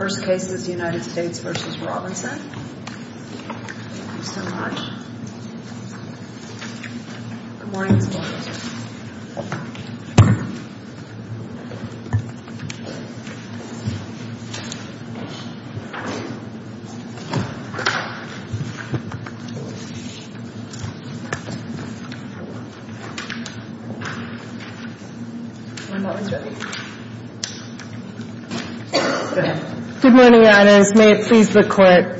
First case is United States v. Robinson. Good morning, Your Honors. May it please the Court.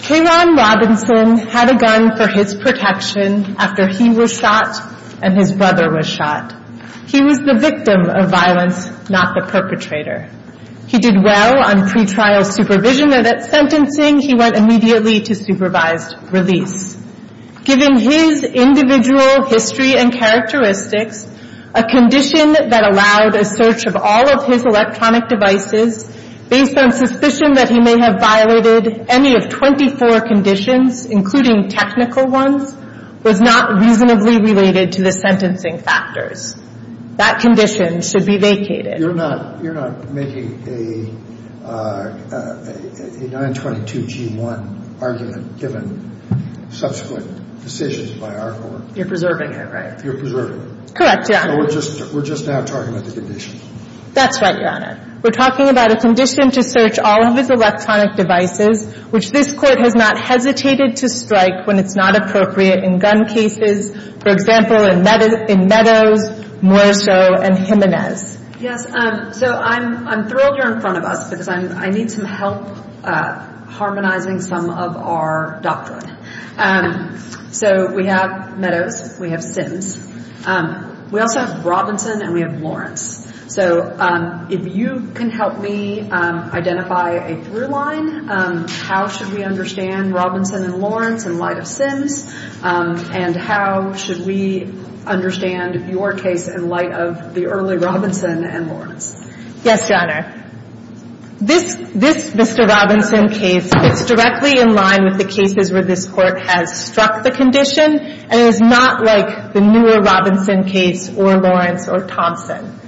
K. Ron Robinson had a gun for his protection after he was shot and his brother was shot. He was the victim of violence, not the perpetrator. He did well on pretrial supervision, and at sentencing, he went immediately to supervised release. Given his individual history and characteristics, a condition that allowed a search of all of his electronic devices, based on suspicion that he may have violated any of 24 conditions, including technical ones, was not reasonably related to the sentencing factors. That condition should be vacated. You're not making a 922G1 argument given subsequent decisions by our Court? You're preserving it, right? You're preserving it? Correct, yeah. We're just now talking about the condition. That's right, Your Honor. We're talking about a condition to search all of his electronic devices, which this Court has not hesitated to strike when it's not appropriate in gun cases, for example, in Meadows, Morisot, and Jimenez. Yes. So I'm thrilled you're in front of us, because I need some help harmonizing some of our doctrine. So we have Meadows. We have Sims. We also have Robinson, and we have Lawrence. So if you can help me identify a through line, how should we understand Robinson and Lawrence in light of Sims, and how should we understand your case in light of the early Robinson and Lawrence? Yes, Your Honor. This Mr. Robinson case fits directly in line with the cases where this Court has struck the condition, and it is not like the newer Robinson case or Lawrence or Thompson.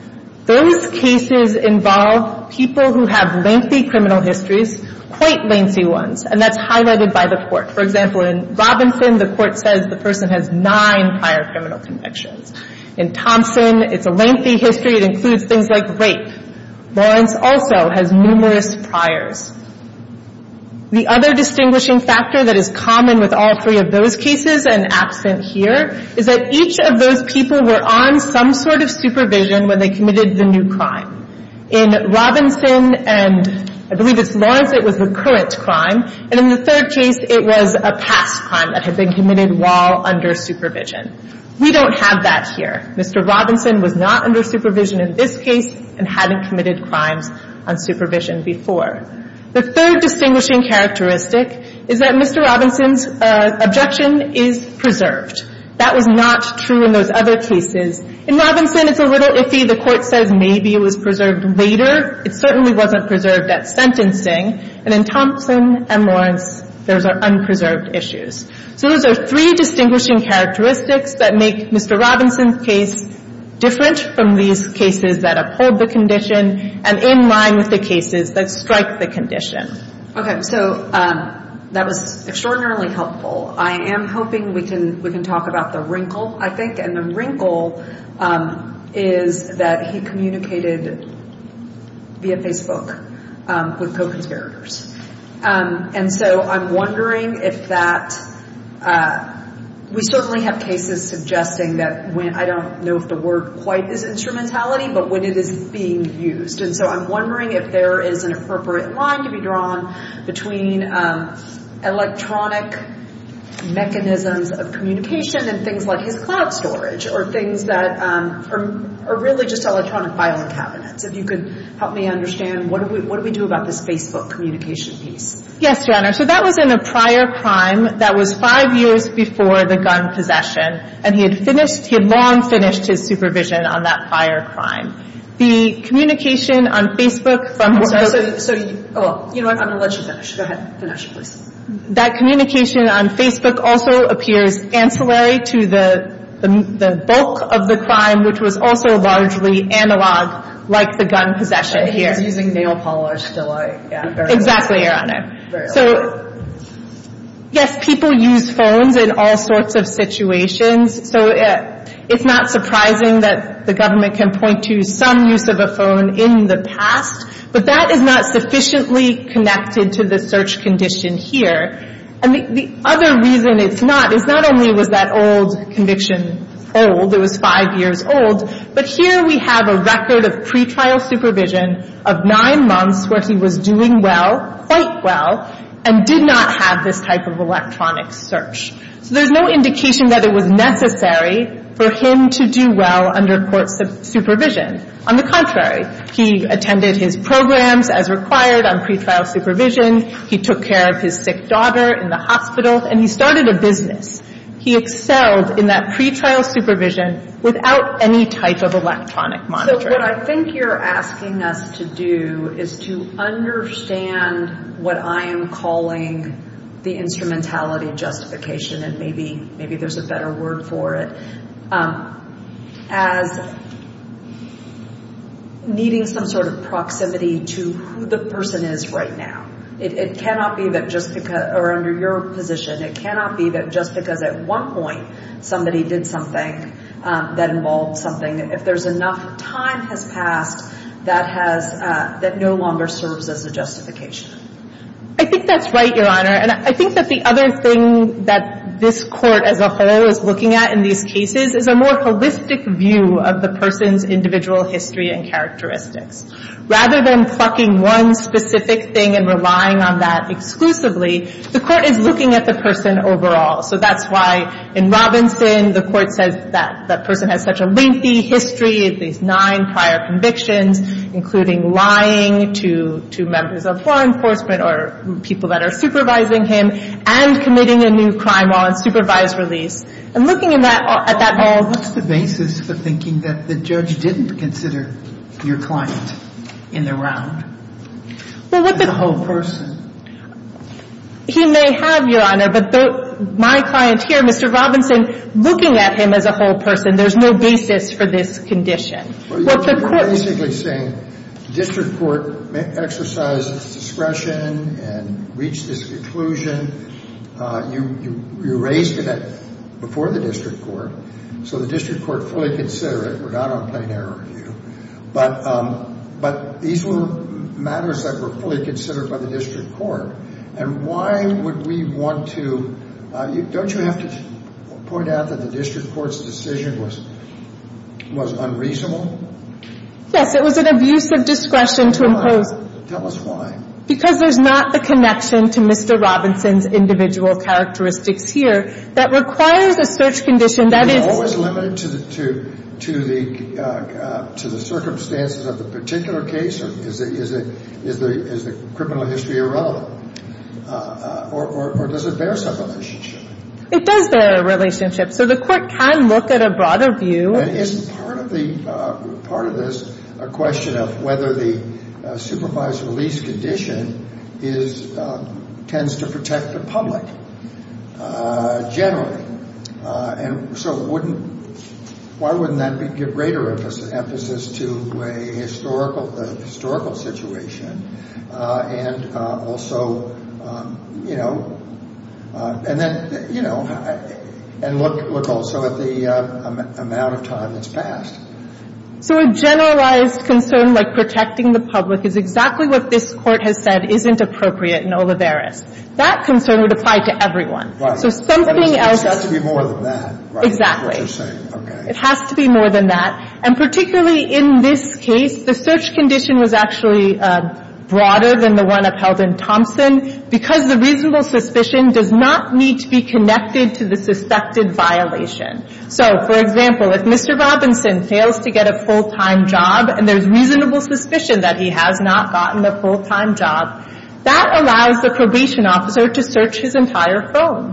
Those cases involve people who have lengthy criminal histories, quite lengthy ones, and that's highlighted by the Court. For example, in Robinson, the Court says the person has nine prior criminal convictions. In Thompson, it's a lengthy history. It includes things like rape. Lawrence also has numerous priors. The other distinguishing factor that is common with all three of those cases, and absent here, is that each of those people were on some sort of supervision when they committed the new crime. In Robinson and I believe it's Lawrence, it was the current crime, and in the third case, it was a past crime that had been committed while under supervision. We don't have that here. Mr. Robinson was not under supervision in this case and hadn't committed crimes on supervision before. The third distinguishing characteristic is that Mr. Robinson's objection is preserved. That was not true in those other cases. In Robinson, it's a little iffy. The Court says maybe it was preserved later. It certainly wasn't preserved at sentencing, and in Thompson and Lawrence, those are unpreserved issues. So those are three distinguishing characteristics that make Mr. Robinson's case different from these cases that uphold the condition and in line with the cases that strike the condition. Okay, so that was extraordinarily helpful. I am hoping we can talk about the wrinkle, I think, and the wrinkle is that he communicated via Facebook with co-conspirators. And so I'm wondering if that, we certainly have cases suggesting that, I don't know if the word quite is instrumentality, but when it is being used. So I'm wondering if there is an appropriate line to be drawn between electronic mechanisms of communication and things like his cloud storage or things that are really just electronic filing cabinets. If you could help me understand, what do we do about this Facebook communication piece? Yes, Your Honor. So that was in a prior crime that was five years before the gun possession. And he had finished, he had long finished his supervision on that prior crime. The communication on Facebook from the... I'm sorry, so, you know what, I'm going to let you finish. Go ahead. Finish, please. That communication on Facebook also appears ancillary to the bulk of the crime, which was also largely analog like the gun possession here. He was using nail polish to like... Exactly, Your Honor. So, yes, people use phones in all sorts of situations. So it's not surprising that the government can point to some use of a phone in the past. But that is not sufficiently connected to the search condition here. And the other reason it's not is not only was that old conviction old, it was five years old, but here we have a record of pretrial supervision of nine months where he was doing well, quite well, and did not have this type of electronic search. So there's no indication that it was necessary for him to do well under court supervision. On the contrary, he attended his programs as required on pretrial supervision. He took care of his sick daughter in the hospital, and he started a business. He excelled in that pretrial supervision without any type of electronic monitoring. So what I think you're asking us to do is to understand what I am calling the instrumentality justification, and maybe there's a better word for it, as needing some sort of proximity to who the person is right now. It cannot be that just because, or under your position, it cannot be that just because at one point somebody did something that involved something, if there's enough time has passed, that has, that no longer serves as a justification. I think that's right, Your Honor. And I think that the other thing that this Court as a whole is looking at in these cases is a more holistic view of the person's individual history and characteristics. Rather than plucking one specific thing and relying on that exclusively, the Court is looking at the person overall. So that's why in Robinson, the Court says that that person has such a lengthy history, at least nine prior convictions, including lying to members of law enforcement or people that are supervising him, and committing a new crime while in supervised release. And looking at that all, what's the basis for thinking that the judge didn't consider your client in the round as a whole person? He may have, Your Honor, but my client here, Mr. Robinson, looking at him as a whole person, there's no basis for this condition. Well, you're basically saying the district court exercised its discretion and reached this conclusion. You raised it before the district court. So the district court fully considered it. We're not on plain error here. But these were matters that were fully considered by the district court. And why would we want to? Don't you have to point out that the district court's decision was unreasonable? Yes, it was an abuse of discretion to impose. Why? Tell us why. Because there's not the connection to Mr. Robinson's individual characteristics here that requires a search condition that is What was limited to the circumstances of the particular case? Is the criminal history irrelevant? Or does it bear some relationship? It does bear a relationship. So the court can look at a broader view. And is part of this a question of whether the supervised release condition tends to protect the public generally? And so wouldn't Why wouldn't that give greater emphasis to a historical situation? And also, you know And then, you know And look also at the amount of time that's passed. So a generalized concern like protecting the public is exactly what this Court has said isn't appropriate in Olivares. That concern would apply to everyone. So something else But it has to be more than that, right? Exactly. It has to be more than that. And particularly in this case, the search condition was actually broader than the one upheld in Thompson because the reasonable suspicion does not need to be connected to the suspected violation. So, for example, if Mr. Robinson fails to get a full-time job and there's reasonable suspicion that he has not gotten a full-time job, that allows the probation officer to search his entire phone.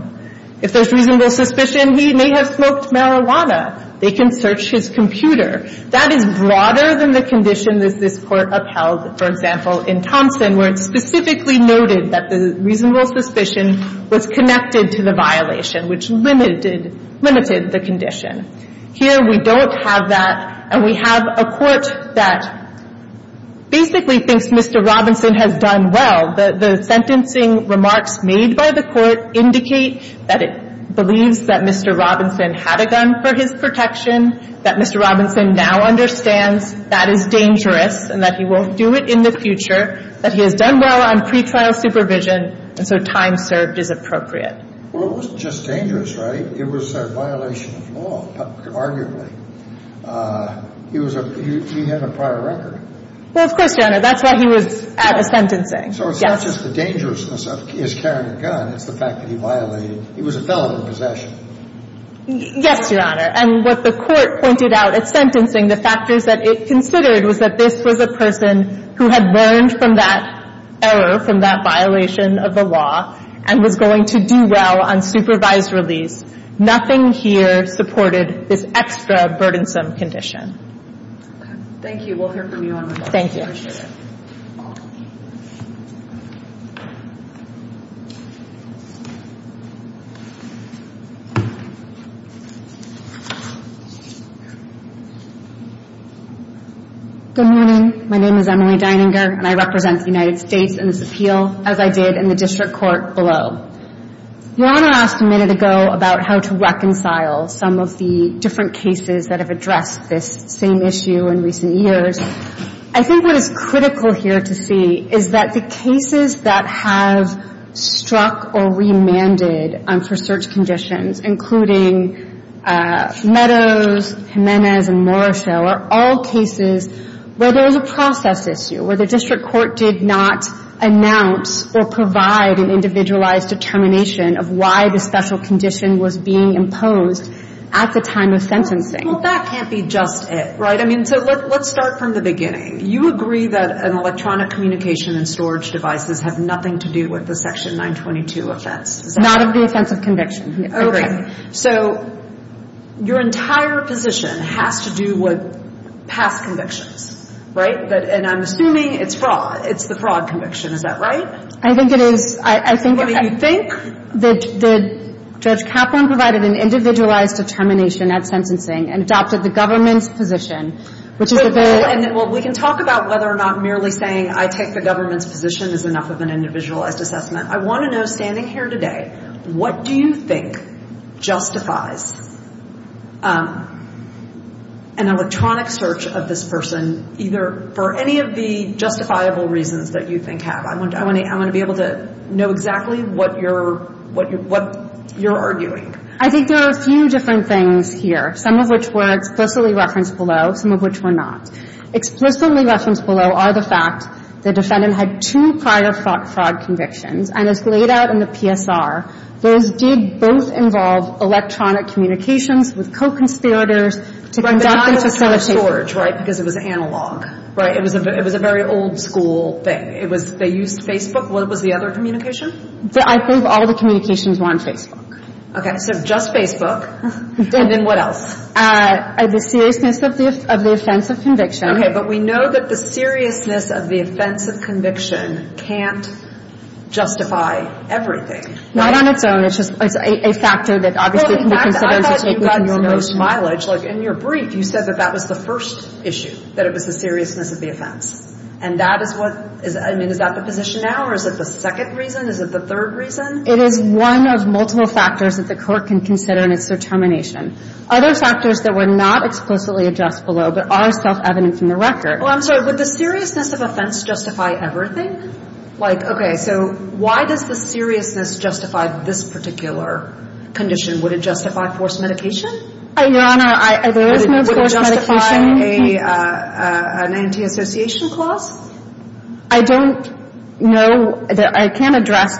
If there's reasonable suspicion, he may have smoked marijuana. They can search his computer. That is broader than the condition that this Court upheld, for example, in Thompson where it specifically noted that the reasonable suspicion was connected to the violation which limited the condition. Here, we don't have that. And we have a Court that basically thinks Mr. Robinson has done well. The sentencing remarks made by the Court indicate that it believes that Mr. Robinson had a gun for his protection, that Mr. Robinson now understands that is dangerous and that he won't do it in the future, that he has done well on pretrial supervision, and so time served is appropriate. Well, it wasn't just dangerous, right? It was a violation of law, arguably. He was a — he had a prior record. Well, of course, Your Honor. That's why he was at a sentencing. So it's not just the dangerousness of his carrying a gun. It's the fact that he violated — he was a felon in possession. Yes, Your Honor. And what the Court pointed out at sentencing, the factors that it considered was that this was a person who had learned from that error, from that violation of the law, and was going to do well on supervised release. Nothing here supported this extra burdensome condition. Thank you. We'll hear from you, Your Honor. Thank you. Good morning. My name is Emily Deininger, and I represent the United States in this appeal. As I did in the district court below. Your Honor asked a minute ago about how to reconcile some of the different cases that have addressed this same issue in recent years. I think what is critical here to see is that the cases that have struck or remanded for search conditions, including Meadows, Jimenez, and Morrishow, are all cases where there is a process issue, where the district court did not announce or provide an individualized determination of why the special condition was being imposed at the time of sentencing. Well, that can't be just it, right? I mean, so let's start from the beginning. You agree that electronic communication and storage devices have nothing to do with the Section 922 offense. Not of the offense of conviction. Okay. So your entire position has to do with past convictions, right? And I'm assuming it's fraud. It's the fraud conviction. Is that right? I think it is. I mean, you think that Judge Kaplan provided an individualized determination at sentencing and adopted the government's position, which is a very Well, we can talk about whether or not merely saying I take the government's position is enough of an individualized assessment. I want to know, standing here today, what do you think justifies an electronic search of this person either for any of the justifiable reasons that you think have? I want to be able to know exactly what you're arguing. I think there are a few different things here, some of which were explicitly referenced below, some of which were not. Explicitly referenced below are the fact the defendant had two prior fraud convictions, and as laid out in the PSR, those did both involve electronic communications with co-conspirators to conduct and facilitate It was George, right, because it was analog, right? It was a very old-school thing. They used Facebook. What was the other communication? I think all the communications were on Facebook. Okay, so just Facebook. And then what else? The seriousness of the offense of conviction. Okay, but we know that the seriousness of the offense of conviction can't justify everything. Not on its own. It's just a factor that obviously the consideration Well, in fact, I thought you mentioned most mileage. In your brief, you said that that was the first issue, that it was the seriousness of the offense. And that is what Is that the position now, or is it the second reason? Is it the third reason? It is one of multiple factors that the court can consider in its determination. Other factors that were not explicitly addressed below but are self-evident from the record. Well, I'm sorry. Would the seriousness of offense justify everything? Like, okay, so why does the seriousness justify this particular condition? Would it justify forced medication? Your Honor, there is no forced medication. Would it justify an anti-association clause? I don't know. I can't address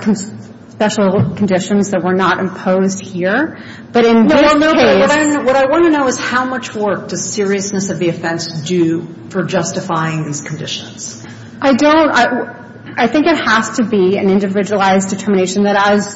special conditions that were not imposed here. But in this case What I want to know is how much work does seriousness of the offense do for justifying these conditions? I don't. I think it has to be an individualized determination that, as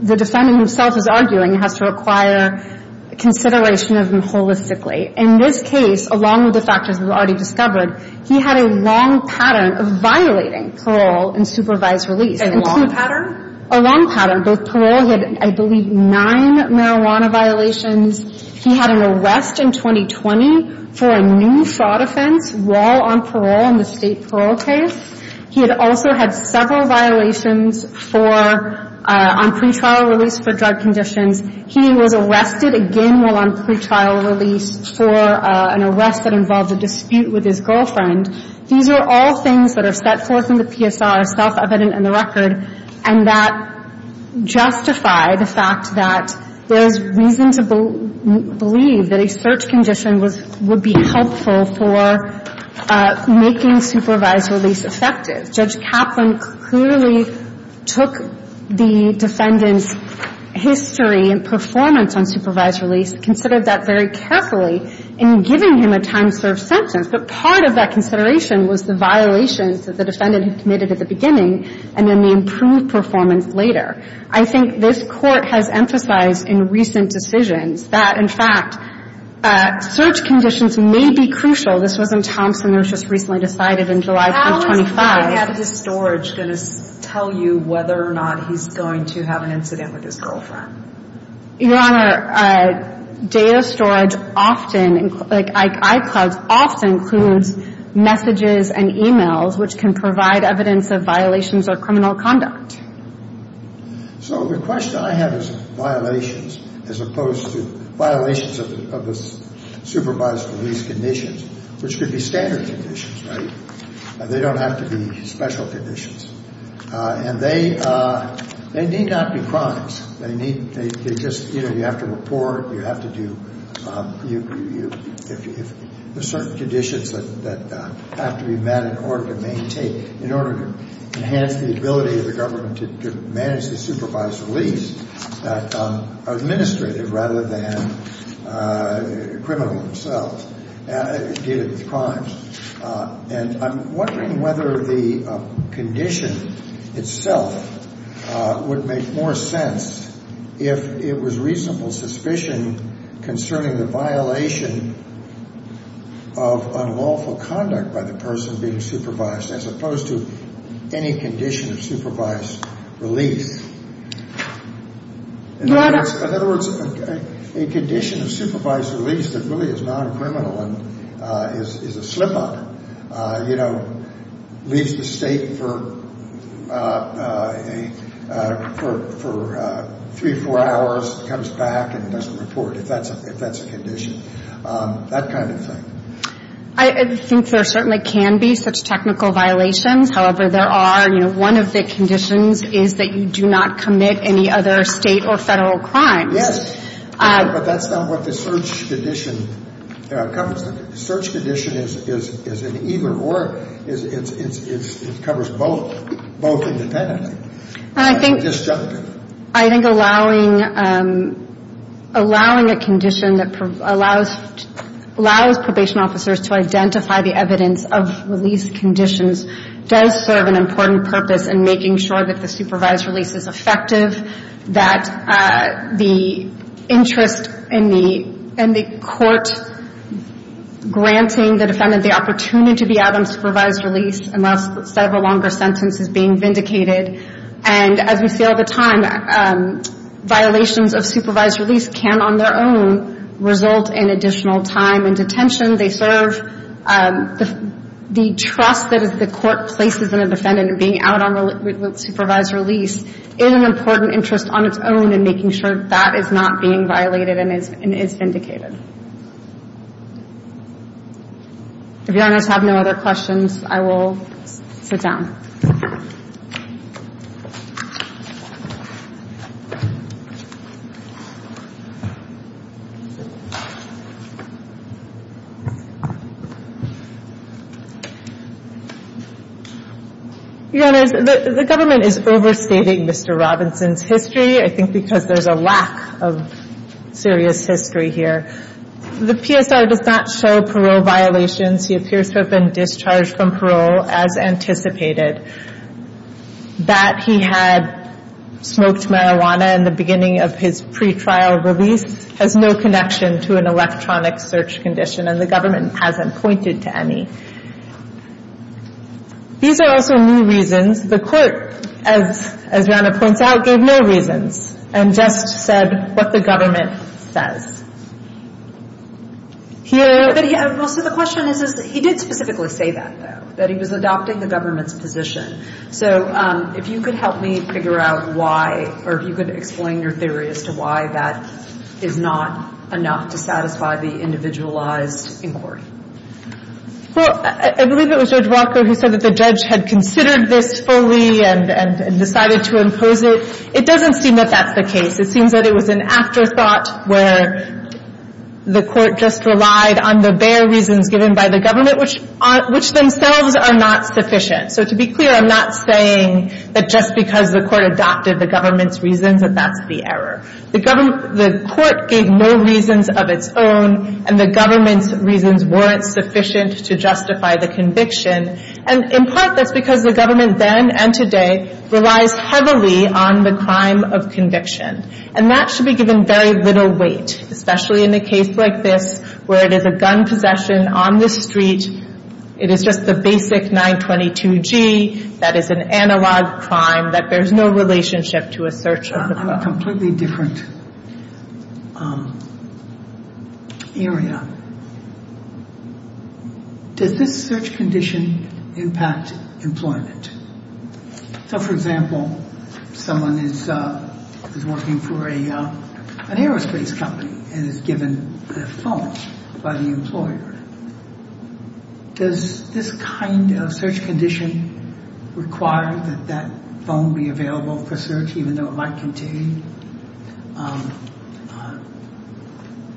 the defendant himself is arguing, has to require consideration of them holistically. In this case, along with the factors we've already discovered, he had a long pattern of violating parole and supervised release. A long pattern? A long pattern. Both parole. He had, I believe, nine marijuana violations. He had an arrest in 2020 for a new fraud offense while on parole in the state parole case. He had also had several violations for, on pretrial release for drug conditions. He was arrested again while on pretrial release for an arrest that involved a dispute with his girlfriend. These are all things that are set forth in the PSR, self-evident in the record, and that justify the fact that there is reason to believe that a search condition would be helpful for making supervised release effective. Judge Kaplan clearly took the defendant's history and performance on supervised release, considered that very carefully in giving him a time-served sentence. But part of that consideration was the violations that the defendant had committed at the beginning and then the improved performance later. I think this Court has emphasized in recent decisions that, in fact, search conditions may be crucial. This was in Thompson. It was just recently decided in July of 25. How is data storage going to tell you whether or not he's going to have an incident with his girlfriend? Your Honor, data storage often, like iClouds, often includes messages and e-mails which can provide evidence of violations or criminal conduct. So the question I have is violations as opposed to violations of the supervised release conditions, which could be standard conditions, right? They don't have to be special conditions. And they need not be crimes. They just, you know, you have to report. You have to do – there are certain conditions that have to be met in order to maintain – in order to enhance the ability of the government to manage the supervised release that are administrative rather than criminal themselves. Data is crimes. And I'm wondering whether the condition itself would make more sense if it was reasonable suspicion concerning the violation of unlawful conduct by the person being supervised as opposed to any condition of supervised release. Your Honor. In other words, a condition of supervised release that really is non-criminal and is a slip-up, you know, leaves the state for three or four hours, comes back, and doesn't report if that's a condition, that kind of thing. I think there certainly can be such technical violations. However, there are – you know, one of the conditions is that you do not commit any other state or federal crimes. Yes. But that's not what the search condition covers. The search condition is an either or. It covers both, both independently. And I think – I'm just joking. I think allowing a condition that allows probation officers to identify the evidence of release conditions does serve an important purpose in making sure that the supervised release is effective, that the interest in the court granting the defendant the opportunity to be out on supervised release unless a longer sentence is being vindicated. And as we see all the time, violations of supervised release can, on their own, result in additional time in detention. They serve the trust that the court places in a defendant in being out on supervised release in an important interest on its own in making sure that that is not being violated and is vindicated. If Your Honors have no other questions, I will sit down. Your Honors, the government is overstating Mr. Robinson's history, I think because there's a lack of serious history here. The PSR does not show parole violations. He appears to have been discharged from parole as anticipated. That he had smoked marijuana in the beginning of his pretrial release has no connection to an electronic search condition, and the government hasn't pointed to any. These are also new reasons. The court, as Rana points out, gave no reasons. And just said what the government says. He did specifically say that, though, that he was adopting the government's position. So if you could help me figure out why, or if you could explain your theory as to why that is not enough to satisfy the individualized inquiry. Well, I believe it was Judge Walker who said that the judge had considered this fully and decided to impose it. It doesn't seem that that's the case. It seems that it was an afterthought where the court just relied on the bare reasons given by the government, which themselves are not sufficient. So to be clear, I'm not saying that just because the court adopted the government's reasons that that's the error. The court gave no reasons of its own, and the government's reasons weren't sufficient to justify the conviction. And in part, that's because the government then and today relies heavily on the crime of conviction. And that should be given very little weight, especially in a case like this, where it is a gun possession on the street. It is just the basic 922G. That is an analog crime that bears no relationship to a search of the crime. On a completely different area, does this search condition impact employment? So for example, someone is working for an aerospace company and is given a phone by the employer. Does this kind of search condition require that that phone be available for search even though it might contain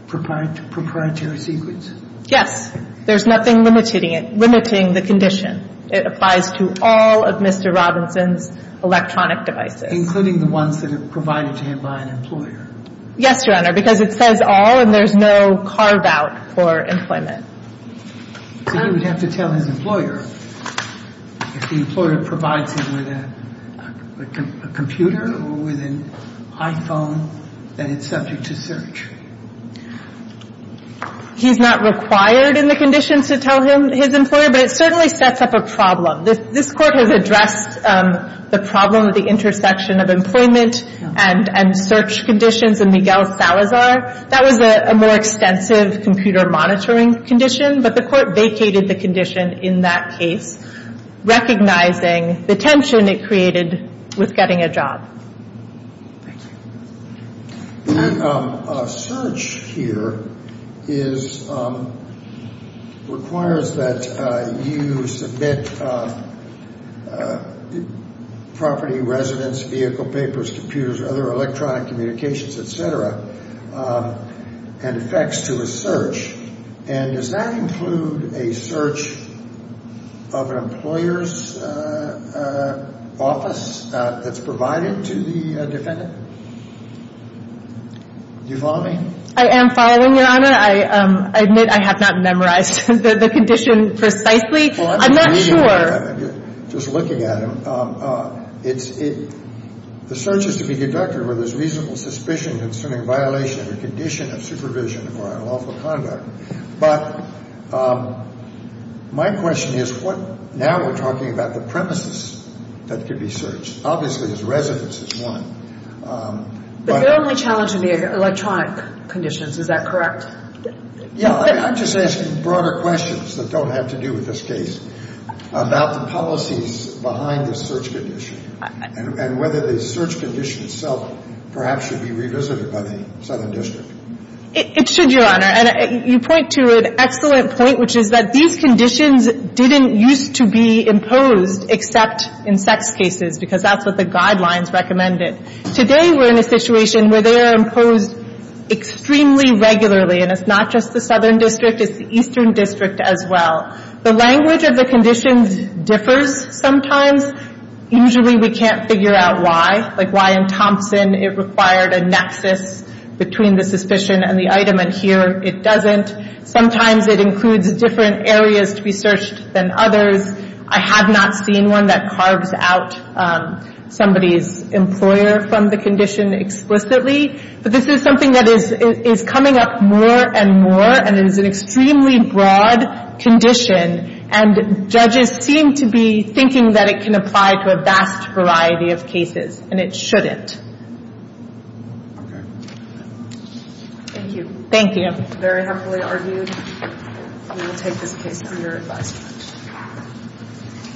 proprietary secrets? Yes. There's nothing limiting it, limiting the condition. It applies to all of Mr. Robinson's electronic devices. Including the ones that are provided to him by an employer. Yes, Your Honor, because it says all, and there's no carve-out for employment. So he would have to tell his employer if the employer provides him with a computer or with an iPhone that it's subject to search. He's not required in the conditions to tell his employer, but it certainly sets up a problem. This Court has addressed the problem of the intersection of employment and search conditions in Miguel Salazar. That was a more extensive computer monitoring condition, but the Court vacated the condition in that case, recognizing the tension it created with getting a job. A search here requires that you submit property, residence, vehicle, papers, computers, other electronic communications, et cetera, and effects to a search. And does that include a search of an employer's office that's provided to the defendant? Do you follow me? I am following, Your Honor. I admit I have not memorized the condition precisely. I'm not sure. Just looking at it, the search is to be deducted where there's reasonable suspicion concerning violation of a condition of supervision or unlawful conduct. But my question is, now we're talking about the premises that could be searched. Obviously, his residence is one. But they're only challenging the electronic conditions. Is that correct? Yeah. I'm just asking broader questions that don't have to do with this case about the policies behind the search condition and whether the search condition itself perhaps should be revisited by the Southern District. It should, Your Honor. And you point to an excellent point, which is that these conditions didn't used to be imposed except in sex cases, because that's what the guidelines recommended. Today, we're in a situation where they are imposed extremely regularly. And it's not just the Southern District. It's the Eastern District as well. The language of the conditions differs sometimes. Usually, we can't figure out why. Like why in Thompson it required a nexus between the suspicion and the item, and here it doesn't. Sometimes it includes different areas to be searched than others. I have not seen one that carves out somebody's employer from the condition explicitly. But this is something that is coming up more and more, and it is an extremely broad condition. And judges seem to be thinking that it can apply to a vast variety of cases, and it shouldn't. Thank you. Thank you. Very happily argued. We will take this case under advisement.